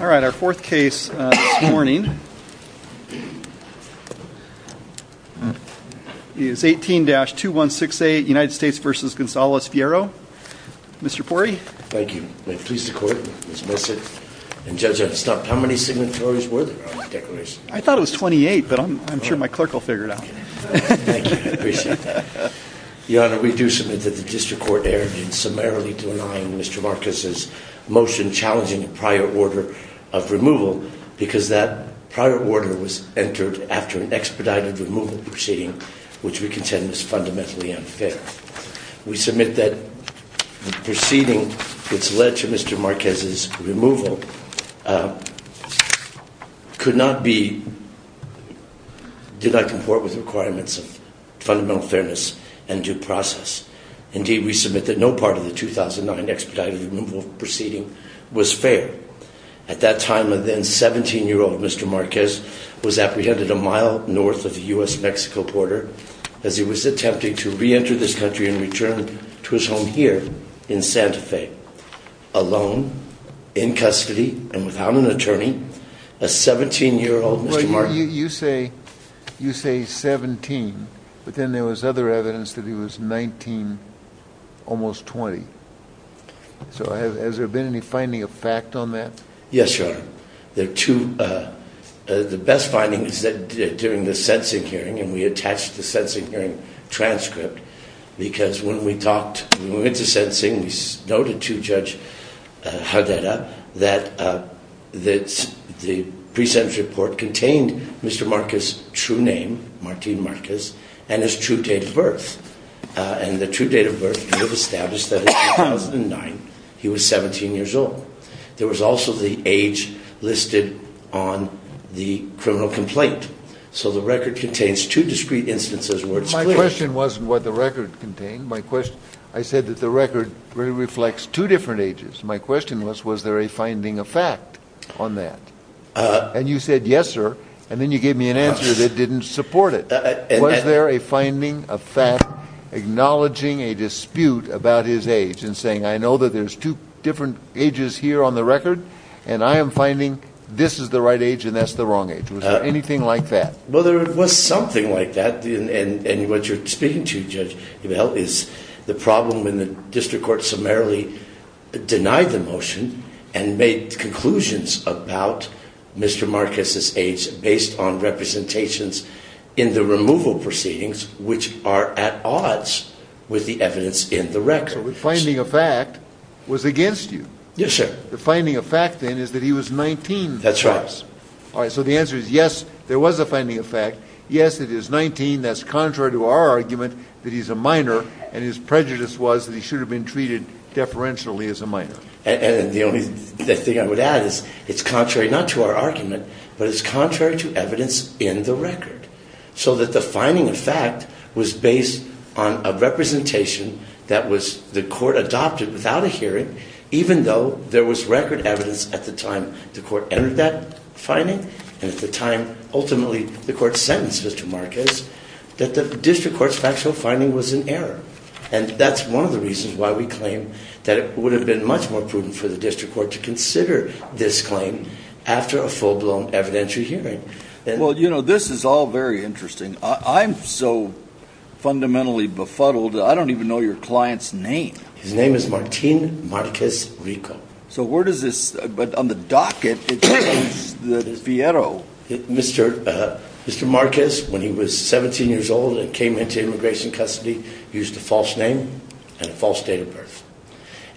Our fourth case this morning is 18-2168 United States v. Gonzalez-Fierro. Mr. Pori. Thank you. May it please the Court. Mr. Messick. Judge, I've stopped. How many signatories were there on the declaration? I thought it was 28, but I'm sure my clerk will figure it out. Thank you. I appreciate that. Your Honor, we do submit that the District Court erred in summarily denying Mr. Marquez's motion challenging a prior order of removal because that prior order was entered after an expedited removal proceeding, which we contend is fundamentally unfair. We submit that the proceeding that's led to Mr. Marquez's removal could not be, did not support with requirements of fundamental fairness and due process. Indeed, we submit that no part of the 2009 expedited removal proceeding was fair. At that time, a then 17-year-old Mr. Marquez was apprehended a mile north of the U.S.-Mexico border as he was attempting to reenter this country and return to his home here in Santa Fe, alone, in custody, and without an attorney, a 17-year-old Mr. Marquez. You say, you say 17, but then there was other evidence that he was 19, almost 20. So has there been any finding of fact on that? Yes, Your Honor. There are two, the best finding is that during the sensing hearing, and we attached the sensing hearing transcript, because when we talked, when we went to sensing, we noted to Judge that the pre-sentence report contained Mr. Marquez's true name, Martin Marquez, and his true date of birth, and the true date of birth we have established that in 2009, he was 17 years old. There was also the age listed on the criminal complaint. So the record contains two discrete instances where it's clear. My question wasn't what the record contained, my question, I said that the record really reflects two different ages. My question was, was there a finding of fact on that? And you said, yes, sir, and then you gave me an answer that didn't support it. Was there a finding of fact acknowledging a dispute about his age and saying, I know that there's two different ages here on the record, and I am finding this is the right age and that's the wrong age. Was there anything like that? Well, there was something like that, and what you're speaking to, Judge, is the problem in the district court summarily denied the motion and made conclusions about Mr. Marquez's age based on representations in the removal proceedings, which are at odds with the evidence in the record. So the finding of fact was against you. Yes, sir. The finding of fact then is that he was 19. That's right. All right, so the answer is yes, there was a finding of fact, yes, it is 19, that's contrary to our argument that he's a minor, and his prejudice was that he should have been treated deferentially as a minor. And the only thing I would add is it's contrary not to our argument, but it's contrary to evidence in the record. So that the finding of fact was based on a representation that was, the court adopted without a hearing, even though there was record evidence at the time the court entered that And at the time, ultimately, the court sentenced Mr. Marquez that the district court's factual finding was in error. And that's one of the reasons why we claim that it would have been much more prudent for the district court to consider this claim after a full-blown evidentiary hearing. Well, you know, this is all very interesting. I'm so fundamentally befuddled, I don't even know your client's name. His name is Martin Marquez Rico. So where does this, but on the docket, it says that it's Vieiro. Mr. Marquez, when he was 17 years old and came into immigration custody, used a false name and a false date of birth.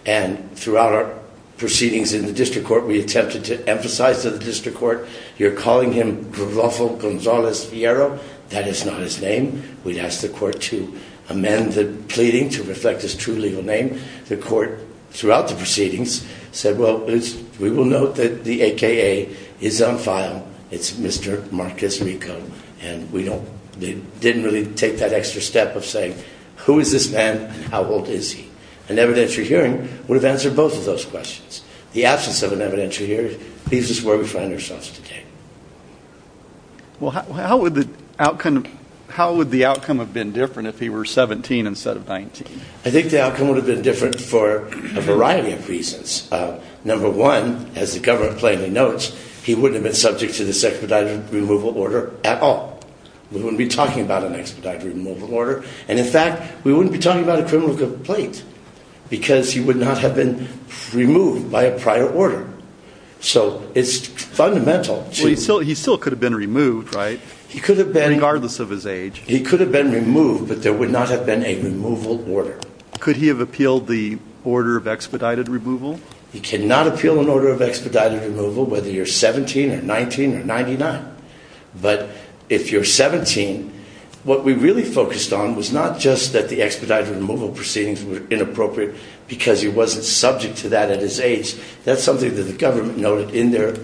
And throughout our proceedings in the district court, we attempted to emphasize to the district court, you're calling him Rodolfo Gonzalez Vieiro, that is not his name. We'd asked the court to amend the pleading to reflect his true legal name. The court, throughout the proceedings, said, well, we will note that the AKA is on file. It's Mr. Marquez Rico. And we don't, they didn't really take that extra step of saying, who is this man and how old is he? An evidentiary hearing would have answered both of those questions. The absence of an evidentiary hearing leaves us where we find ourselves today. Well, how would the outcome, how would the outcome have been different if he were 17 instead of 19? I think the outcome would have been different for a variety of reasons. Number one, as the government plainly notes, he wouldn't have been subject to this expedited removal order at all. We wouldn't be talking about an expedited removal order. And in fact, we wouldn't be talking about a criminal complaint because he would not have been removed by a prior order. So it's fundamental. He still could have been removed, right? He could have been. Regardless of his age. He could have been removed, but there would not have been a removal order. Could he have appealed the order of expedited removal? He cannot appeal an order of expedited removal, whether you're 17 or 19 or 99. But if you're 17, what we really focused on was not just that the expedited removal proceedings were inappropriate because he wasn't subject to that at his age. That's something that the government noted in their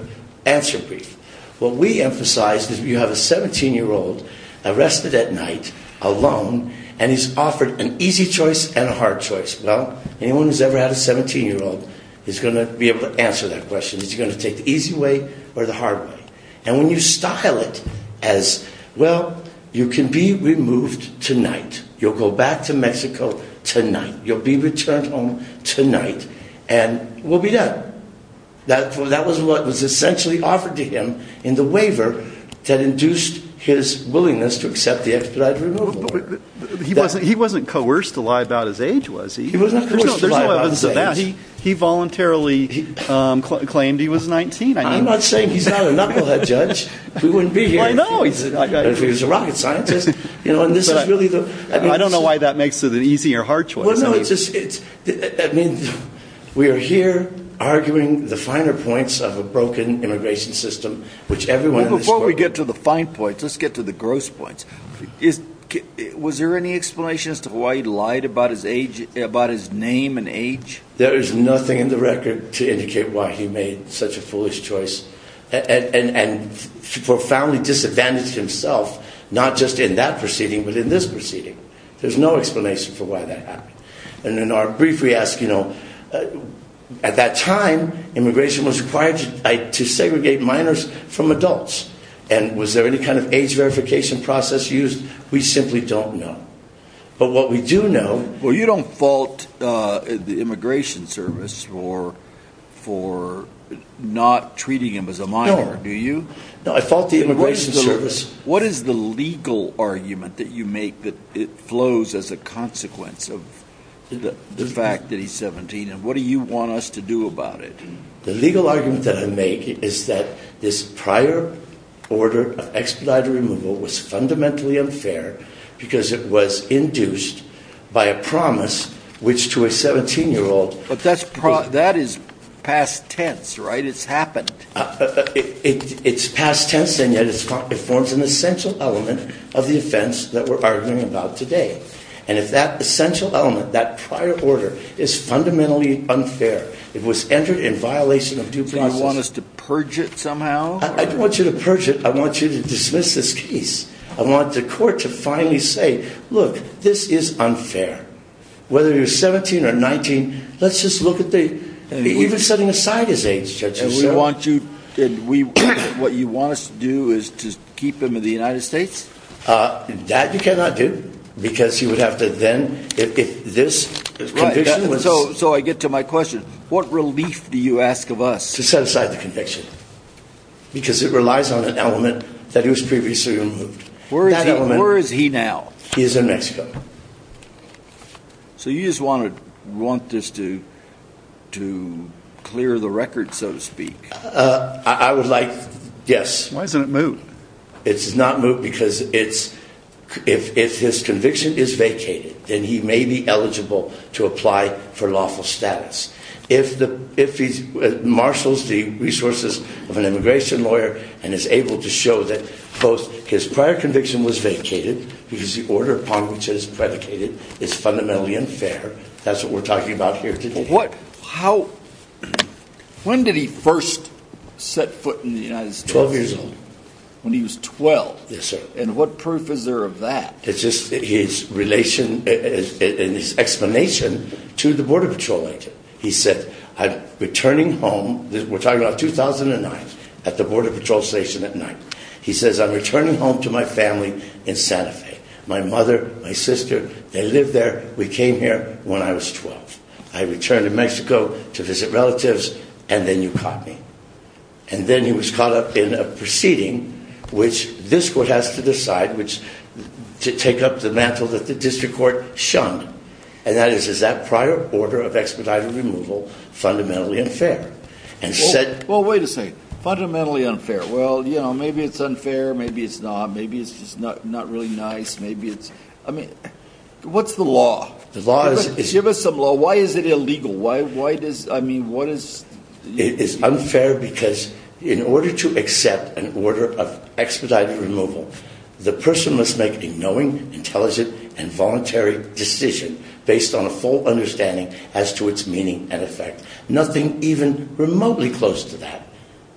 answer brief. What we emphasized is you have a 17-year-old arrested at night, alone, and he's offered an easy choice and a hard choice. Well, anyone who's ever had a 17-year-old is going to be able to answer that question. Is he going to take the easy way or the hard way? And when you style it as, well, you can be removed tonight. You'll go back to Mexico tonight. You'll be returned home tonight and we'll be done. That was what was essentially offered to him in the waiver that induced his willingness to accept the expedited removal order. He wasn't coerced to lie about his age, was he? He was not coerced to lie about his age. He voluntarily claimed he was 19. I'm not saying he's not a knucklehead, Judge. We wouldn't be here if he was a rocket scientist. I don't know why that makes it an easier or hard choice. Well, no, it's just, I mean, we are here arguing the finer points of a broken immigration system, which everyone in this court... Well, before we get to the fine points, let's get to the gross points. Was there any explanation as to why he lied about his age, about his name and age? There is nothing in the record to indicate why he made such a foolish choice and profoundly disadvantaged himself, not just in that proceeding, but in this proceeding. There's no explanation for why that happened. And in our brief, we ask, you know, at that time, immigration was required to segregate minors from adults. And was there any kind of age verification process used? We simply don't know. But what we do know... Well, you don't fault the Immigration Service for not treating him as a minor, do you? No, I fault the Immigration Service. What is the legal argument that you make that it flows as a consequence of the fact that he's 17? And what do you want us to do about it? The legal argument that I make is that this prior order of expedited removal was fundamentally unfair because it was induced by a promise, which to a 17-year-old... But that is past tense, right? It's happened. It's past tense, and yet it forms an essential element of the offense that we're arguing about today. And if that essential element, that prior order, is fundamentally unfair, it was entered in violation of due process... So you want us to purge it somehow? I don't want you to purge it. I want you to dismiss this case. I want the court to finally say, look, this is unfair. Whether you're 17 or 19, let's just look at the... Even setting aside his age, Judge, you said... What you want us to do is to keep him in the United States? That you cannot do because you would have to then... This conviction was... Right. So I get to my question. What relief do you ask of us? To set aside the conviction because it relies on an element that was previously removed. That element... Where is he now? He is in Mexico. So you just want this to clear the record, so to speak? I would like... Yes. Why isn't it moved? It's not moved because if his conviction is vacated, then he may be eligible to apply for lawful status. If he marshals the resources of an immigration lawyer and is able to show that both his prior conviction was vacated, because the order upon which it is predicated is fundamentally unfair, that's what we're talking about here today. When did he first set foot in the United States? 12 years old. When he was 12? Yes, sir. And what proof is there of that? It's just his relation and his explanation to the Border Patrol agent. He said, I'm returning home. We're talking about 2009 at the Border Patrol station at night. He says, I'm returning home to my family in Santa Fe. My mother, my sister, they lived there. We came here when I was 12. I returned to Mexico to visit relatives, and then you caught me. And then he was caught up in a proceeding which this court has to decide, which to take up the mantle that the district court shunned. And that is, is that prior order of expedited removal fundamentally unfair? And said... Well, wait a second. Fundamentally unfair. Well, you know, maybe it's unfair. Maybe it's not. Maybe it's just not really nice. Maybe it's... I mean, what's the law? The law is... Give us some law. Why is it illegal? Why does... I mean, what is... It is unfair because in order to accept an order of expedited removal, the person must make a knowing, intelligent, and voluntary decision based on a full understanding as to its meaning and effect. Nothing even remotely close to that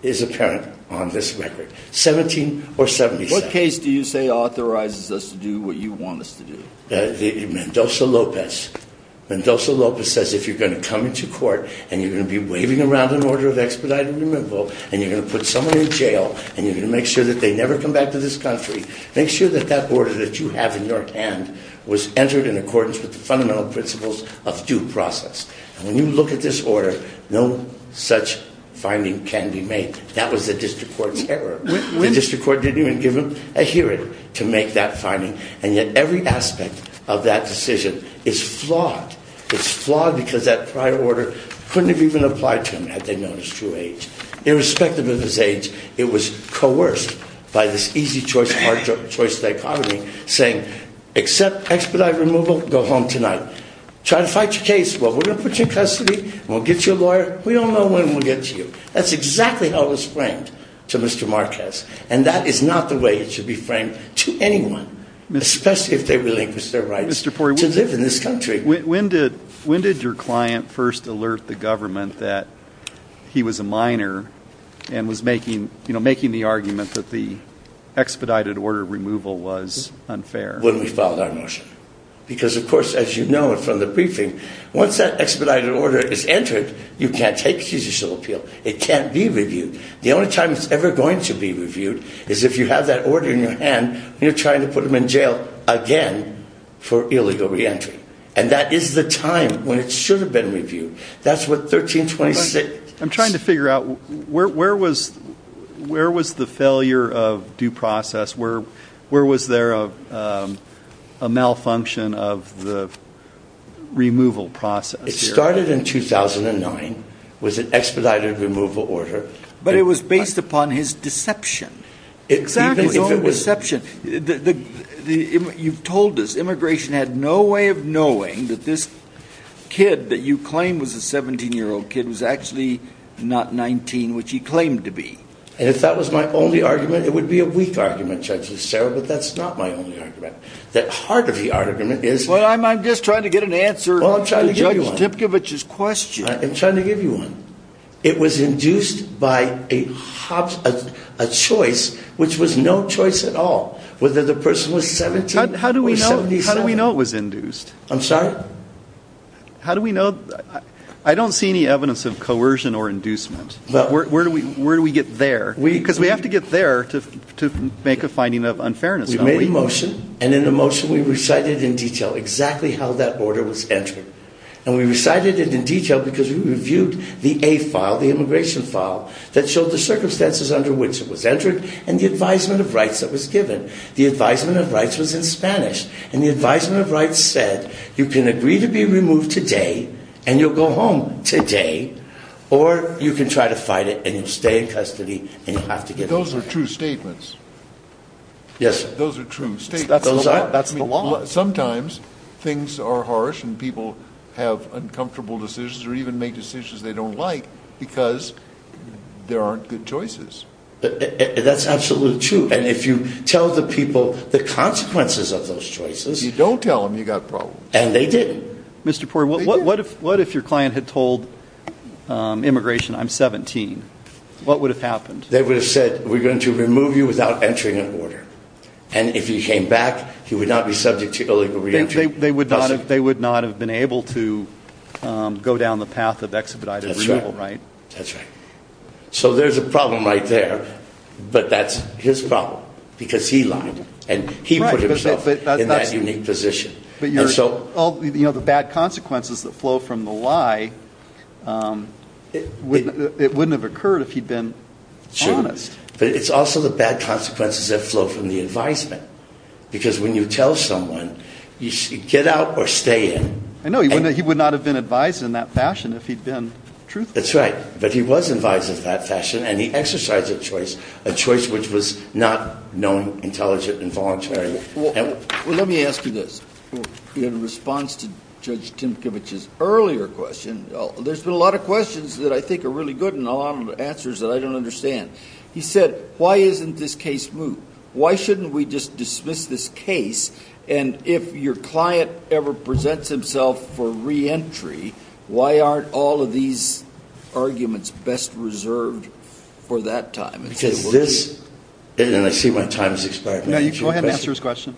is apparent on this record. 17 or 77. What case do you say authorizes us to do what you want us to do? Mendoza-Lopez. Mendoza-Lopez says if you're going to come into court and you're going to be waving around an order of expedited removal, and you're going to put someone in jail, and you're going to make sure that they never come back to this country, make sure that that order that you have in your hand was entered in accordance with the fundamental principles of due process. And when you look at this order, no such finding can be made. That was the district court's error. The district court didn't even give him a hearing to make that finding. And yet every aspect of that decision is flawed. It's flawed because that prior order couldn't have even applied to him had they known his true age. Irrespective of his age, it was coerced by this easy choice, hard choice dichotomy saying, accept expedited removal, go home tonight. Try to fight your case. Well, we're going to put you in custody. We'll get you a lawyer. We don't know when we'll get to you. That's exactly how it was framed to Mr. Marquez. And that is not the way it should be framed to anyone, especially if they relinquish their rights to live in this country. When did your client first alert the government that he was a minor and was making the argument that the expedited order of removal was unfair? When we filed our motion. Because of course, as you know from the briefing, once that expedited order is entered, you can't take judicial appeal. It can't be reviewed. The only time it's ever going to be reviewed is if you have that order in your hand, you're trying to put him in jail again for illegal reentry. And that is the time when it should have been reviewed. That's what 1326. I'm trying to figure out where, where was, where was the failure of due process where, where was there a malfunction of the removal process? It started in 2009, was an expedited removal order. But it was based upon his deception, his own deception. You've told us immigration had no way of knowing that this kid that you claim was a 17 year old kid was actually not 19, which he claimed to be. And if that was my only argument, it would be a weak argument, Judge Estera, but that's not my only argument. That part of the argument is, well, I'm, I'm just trying to get an answer to Judge Dipkevich's question. I'm trying to give you one. It was induced by a choice, which was no choice at all, whether the person was 17 or 77. How do we know? How do we know it was induced? I'm sorry? How do we know? I don't see any evidence of coercion or inducement. Where do we, where do we get there? Because we have to get there to make a finding of unfairness. We made a motion and in the motion we recited in detail exactly how that order was entered. And we recited it in detail because we reviewed the A file, the immigration file, that showed the circumstances under which it was entered and the advisement of rights that was given. The advisement of rights was in Spanish. And the advisement of rights said, you can agree to be removed today and you'll go home today or you can try to fight it and you'll stay in custody and you'll have to get out. Those are true statements. Yes. Those are true statements. Those are. That's the law. Sometimes things are harsh and people have uncomfortable decisions or even make decisions they don't like because there aren't good choices. That's absolutely true. And if you tell the people the consequences of those choices. You don't tell them you got problems. And they didn't. Mr. Poirier, what if your client had told immigration, I'm 17, what would have happened? They would have said, we're going to remove you without entering an order. And if he came back, he would not be subject to illegal reentry. They would not have been able to go down the path of expedited removal, right? That's right. So there's a problem right there. But that's his problem because he lied and he put himself in that unique position. You know, the bad consequences that flow from the lie, it wouldn't have occurred if he'd been honest. Sure. But it's also the bad consequences that flow from the advisement. Because when you tell someone, you should get out or stay in. I know. He would not have been advised in that fashion if he'd been truthful. That's right. But he was advised in that fashion and he exercised a choice, a choice which was not known, intelligent, and voluntary. Well, let me ask you this. In response to Judge Timkiewicz's earlier question, there's been a lot of questions that I think are really good and a lot of answers that I don't understand. He said, why isn't this case moved? Why shouldn't we just dismiss this case? And if your client ever presents himself for reentry, why aren't all of these arguments best reserved for that time? Because this, and I see my time is expiring. Go ahead and answer his question.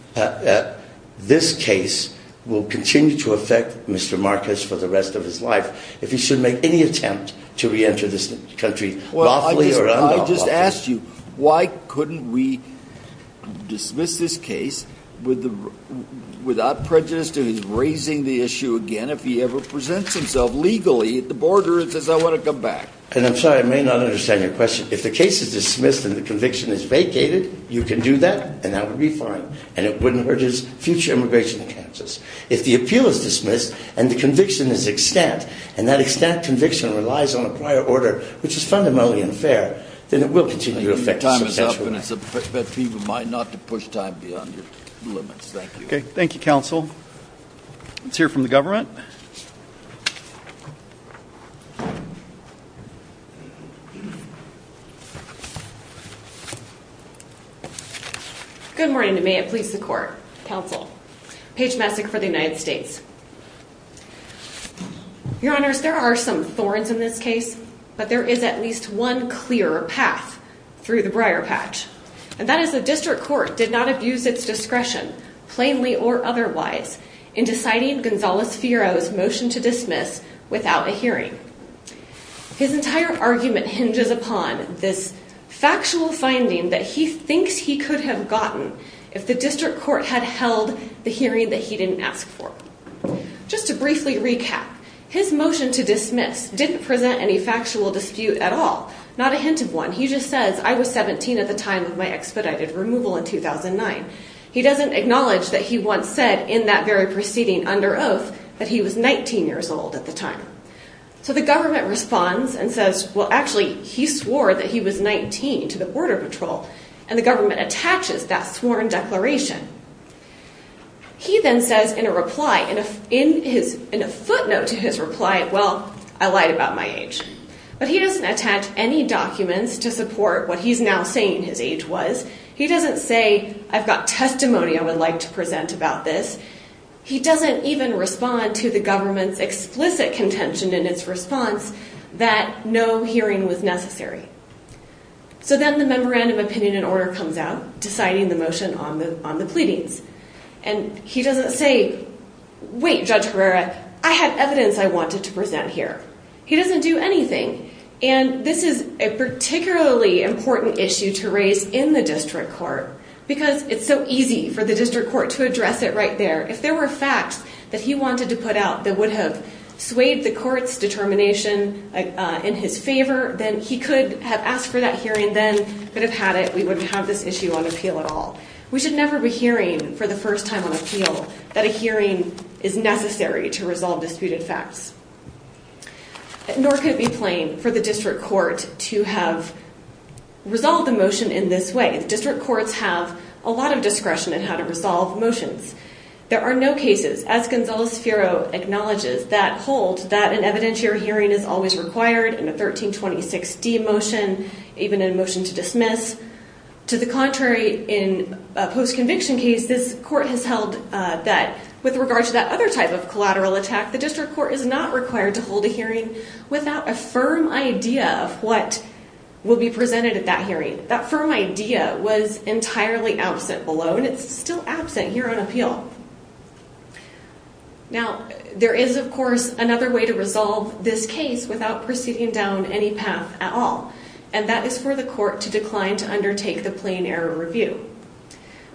This case will continue to affect Mr. Marcus for the rest of his life if he should make any attempt to reenter this country lawfully or unlawfully. Well, I just asked you, why couldn't we dismiss this case without prejudice to his raising the issue again if he ever presents himself legally at the border and says, I want to come back? And I'm sorry, I may not understand your question. If the case is dismissed and the conviction is vacated, you can do that, and that would be fine. And it wouldn't hurt his future immigration chances. If the appeal is dismissed and the conviction is extant, and that extant conviction relies on a prior order, which is fundamentally unfair, then it will continue to affect him. Your time is up. And it's best for you and mine not to push time beyond your limits. Thank you. Okay. Thank you, counsel. Let's hear from the government. Good morning, and may it please the court, counsel, Paige Messick for the United States. Your honors, there are some thorns in this case, but there is at least one clear path through the briar patch. And that is the district court did not abuse its discretion, plainly or otherwise, in deciding Gonzalez-Firo's motion to dismiss without a hearing. His entire argument hinges upon this factual finding that he thinks he could have gotten if the district court had held the hearing that he didn't ask for. Just to briefly recap, his motion to dismiss didn't present any factual dispute at all. Not a hint of one. He just says, I was 17 at the time of my expedited removal in 2009. He doesn't acknowledge that he once said in that very proceeding under oath that he was 19 years old at the time. So the government responds and says, well, actually he swore that he was 19 to the border patrol and the government attaches that sworn declaration. He then says in a reply, in a footnote to his reply, well, I lied about my age. But he doesn't attach any documents to support what he's now saying his age was. He doesn't say, I've got testimony I would like to present about this. He doesn't even respond to the government's explicit contention in its response that no hearing was necessary. So then the memorandum opinion and order comes out, deciding the motion on the, on the pleadings. And he doesn't say, wait, Judge Herrera, I had evidence I wanted to present here. He doesn't do anything. And this is a particularly important issue to raise in the district court because it's so easy for the district court to address it right there. If there were facts that he wanted to put out that would have swayed the court's determination in his favor, then he could have asked for that hearing then, could have had it, we wouldn't have this issue on appeal at all. We should never be hearing for the first time on appeal that a hearing is necessary to resolve disputed facts. Nor could it be plain for the district court to have resolved the motion in this way. District courts have a lot of discretion in how to resolve motions. There are no cases, as Gonzales-Ferro acknowledges, that hold that an evidentiary hearing is always required in a 1326D motion, even in a motion to dismiss. To the contrary, in a post-conviction case, this court has held that with regard to that other type of collateral attack, the district court is not required to hold a hearing without a firm idea of what will be presented at that hearing. That firm idea was entirely absent below, and it's still absent here on appeal. Now, there is, of course, another way to resolve this case without proceeding down any path at all, and that is for the court to decline to undertake the plain error review.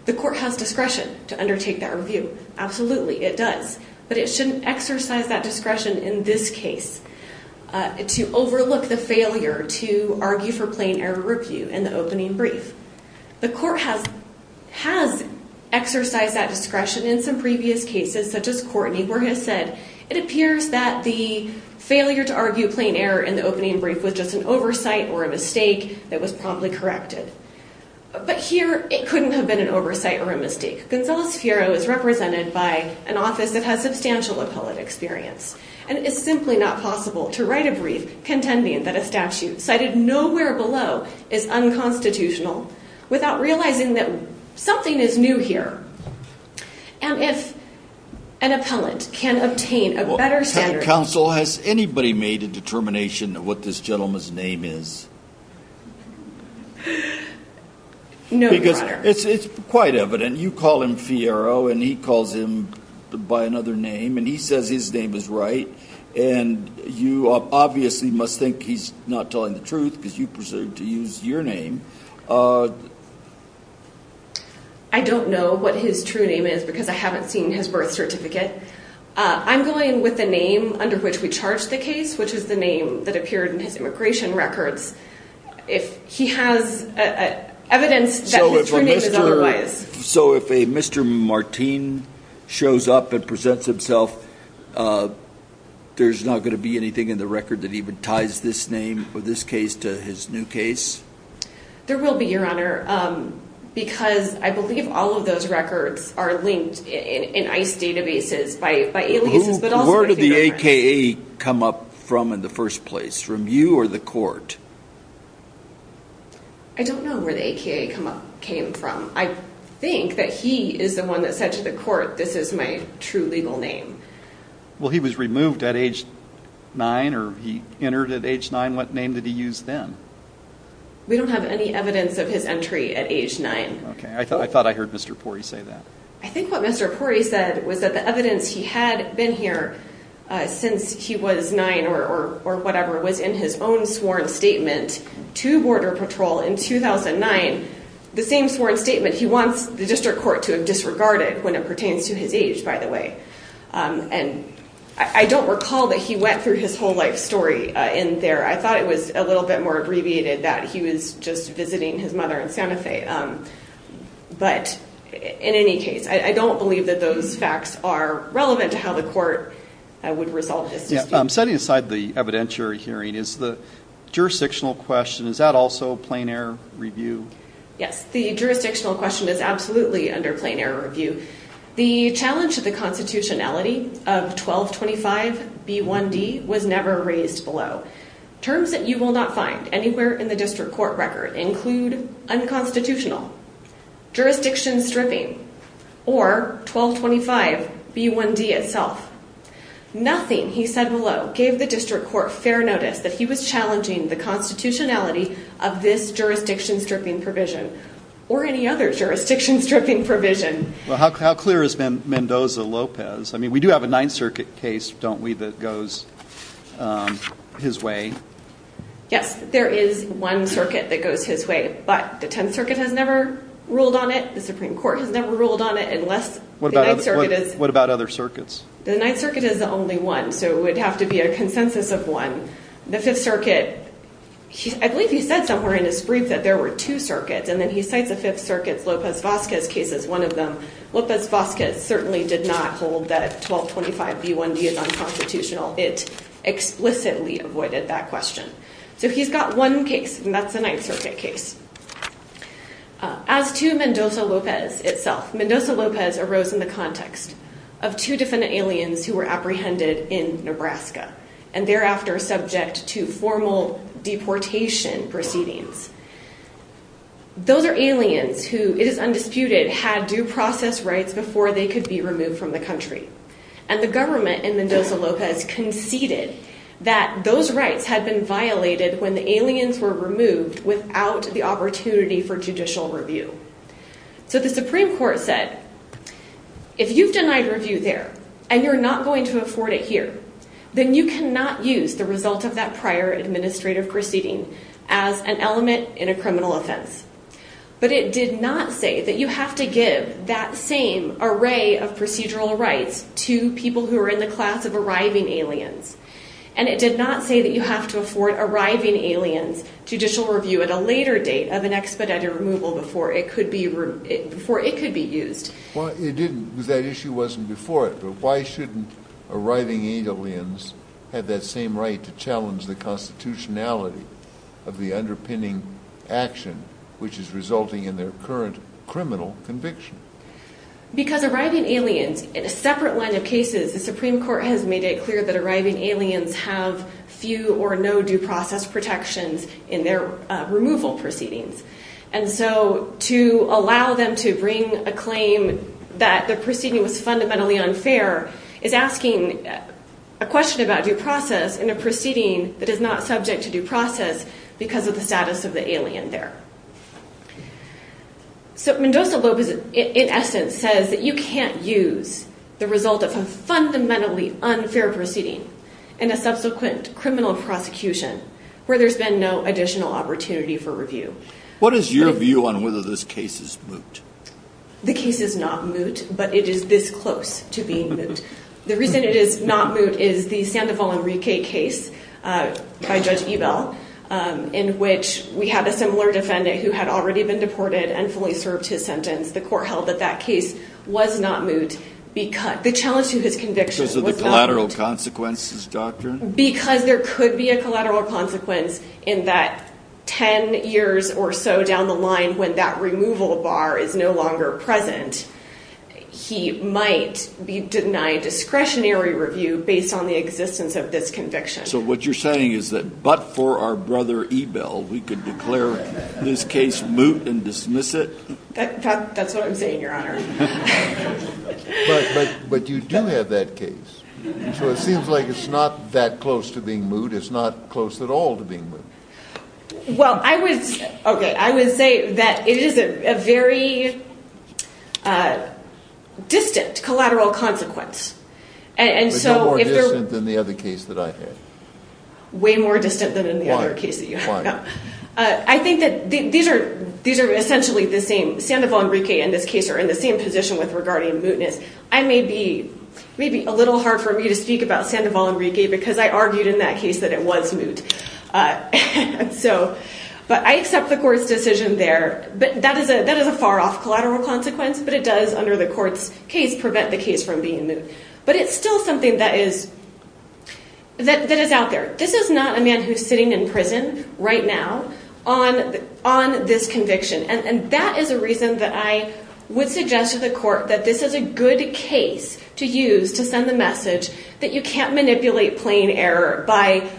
The court has discretion to undertake that review. Absolutely, it does, but it shouldn't exercise that discretion in this case to overlook the failure to argue for plain error review in the opening brief. The court has exercised that discretion in some previous cases, such as Courtney, where he has said, it appears that the failure to argue plain error in the opening brief was just an oversight or a mistake that was promptly corrected. But here, it couldn't have been an oversight or a mistake. Gonzales-Fiero is represented by an office that has substantial appellate experience, and it's simply not possible to write a brief contending that a statute cited nowhere below is unconstitutional without realizing that something is new here. And if an appellant can obtain a better standard... Counsel, has anybody made a determination of what this gentleman's name is? No, Your Honor. It's quite evident. You call him Fiero, and he calls him by another name, and he says his name is right, and you obviously must think he's not telling the truth, because you pursued to use your name. I don't know what his true name is, because I haven't seen his birth certificate. I'm going with the name under which we charged the case, which is the name that appeared in his immigration records. If he has evidence that his true name is otherwise... So if a Mr. Martine shows up and presents himself, there's not going to be anything in the record that even ties this name, or this case, to his new case? There will be, Your Honor, because I believe all of those records are linked in ICE databases by aliases, but also... Where did the AKA come up from in the first place, from you or the court? I don't know where the AKA came from. I think that he is the one that said to the court, this is my true legal name. Well, he was removed at age nine, or he entered at age nine. What name did he use then? We don't have any evidence of his entry at age nine. Okay. I thought I heard Mr. Pori say that. I think what Mr. Pori said was that the evidence he had been here since he was nine, or whatever, was in his own sworn statement to Border Patrol in 2009, the same sworn statement he wants the district court to have disregarded when it pertains to his age, by the way. I don't recall that he went through his whole life story in there. I thought it was a little bit more abbreviated that he was just visiting his mother in Santa Fe. But in any case, I don't believe that those facts are relevant to how the court would resolve this dispute. I'm setting aside the evidentiary hearing. Is the jurisdictional question, is that also a plain error review? Yes. The jurisdictional question is absolutely under plain error review. The challenge to the constitutionality of 1225B1D was never raised below. Terms that you will not find anywhere in the district court record include unconstitutional, jurisdiction stripping, or 1225B1D itself. Nothing, he said below, gave the district court fair notice that he was challenging the constitutionality of this jurisdiction stripping provision, or any other jurisdiction stripping provision. Well, how clear is Mendoza-Lopez? I mean, we do have a Ninth Circuit case, don't we, that goes his way? Yes, there is one circuit that goes his way, but the Tenth Circuit has never ruled on it. The Supreme Court has never ruled on it, unless the Ninth Circuit has. What about other circuits? The Ninth Circuit is the only one, so it would have to be a consensus of one. The Fifth Circuit, I believe he said somewhere in his brief that there were two circuits, and then he cites the Fifth Circuit's Lopez-Vazquez case as one of them. Lopez-Vazquez certainly did not hold that 1225B1D is unconstitutional. It explicitly avoided that question. So he's got one case, and that's the Ninth Circuit case. As to Mendoza-Lopez itself, Mendoza-Lopez arose in the context of two defendant aliens who were apprehended in Nebraska, and thereafter subject to formal deportation proceedings. Those are aliens who, it is undisputed, had due process rights before they could be removed from the country, and the government in Mendoza-Lopez conceded that those rights had been violated when the aliens were removed without the opportunity for judicial review. So the Supreme Court said, if you've denied review there, and you're not going to afford it here, then you cannot use the result of that prior administrative proceeding as an element in a criminal offense. But it did not say that you have to give that same array of procedural rights to people who are in the class of arriving aliens. And it did not say that you have to afford arriving aliens judicial review at a later date of an expedited removal before it could be used. Well, it didn't, because that issue wasn't before it. But why shouldn't arriving aliens have that same right to challenge the constitutionality of the underpinning action, which is resulting in their current criminal conviction? Because arriving aliens, in a separate line of cases, the Supreme Court has made it clear that arriving aliens have few or no due process protections in their removal proceedings. And so to allow them to bring a claim that the proceeding was fundamentally unfair is asking a question about due process in a proceeding that is not subject to due process because of the status of the alien there. So Mendoza-Lopez, in essence, says that you can't use the result of a fundamentally unfair proceeding in a subsequent criminal prosecution where there's been no additional opportunity for review. What is your view on whether this case is moot? The case is not moot, but it is this close to being moot. The reason it is not moot is the Sandoval Enrique case by Judge Ebell, in which we had a similar defendant who had already been deported and fully served his sentence. The court held that that case was not moot because the challenge to his conviction was a collateral consequences doctrine. Because there could be a collateral consequence in that 10 years or so down the line when that removal bar is no longer present, he might be denied discretionary review based on the existence of this conviction. So what you're saying is that but for our brother Ebell, we could declare this case moot and dismiss it? That's what I'm saying, Your Honor. But you do have that case, so it seems like it's not that close to being moot. It's not close at all to being moot. Well, I would say that it is a very distant collateral consequence. And so- But no more distant than the other case that I had. Way more distant than the other case that you had. I think that these are essentially the same. Sandoval and Riquet in this case are in the same position with regarding mootness. I may be a little hard for me to speak about Sandoval and Riquet because I argued in that case that it was moot. But I accept the court's decision there, but that is a far off collateral consequence, but it does under the court's case prevent the case from being moot. But it's still something that is out there. This is not a man who's sitting in prison right now on this conviction. And that is a reason that I would suggest to the court that this is a good case to use to send the message that you can't manipulate plain error by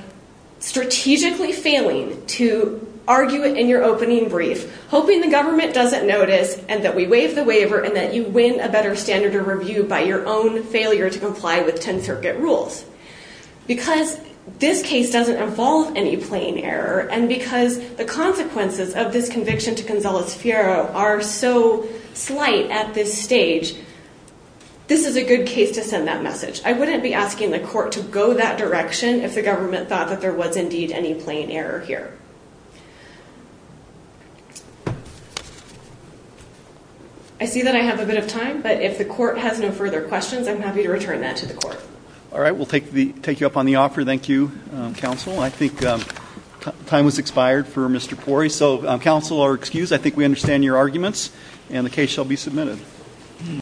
strategically failing to argue it in your opening brief, hoping the government doesn't notice and that we waive the waiver and that you win a better standard of review by your own failure to comply with 10th Circuit rules. Because this case doesn't involve any plain error and because the consequences of this conviction to Gonzalez-Ferrer are so slight at this stage, this is a good case to send that message. I wouldn't be asking the court to go that direction if the government thought that there was indeed any plain error here. I see that I have a bit of time, but if the court has no further questions, I'm happy to return that to the court. All right. We'll take you up on the offer. Thank you, counsel. I think time has expired for Mr. Pori. So counsel are excused. I think we understand your arguments and the case shall be submitted.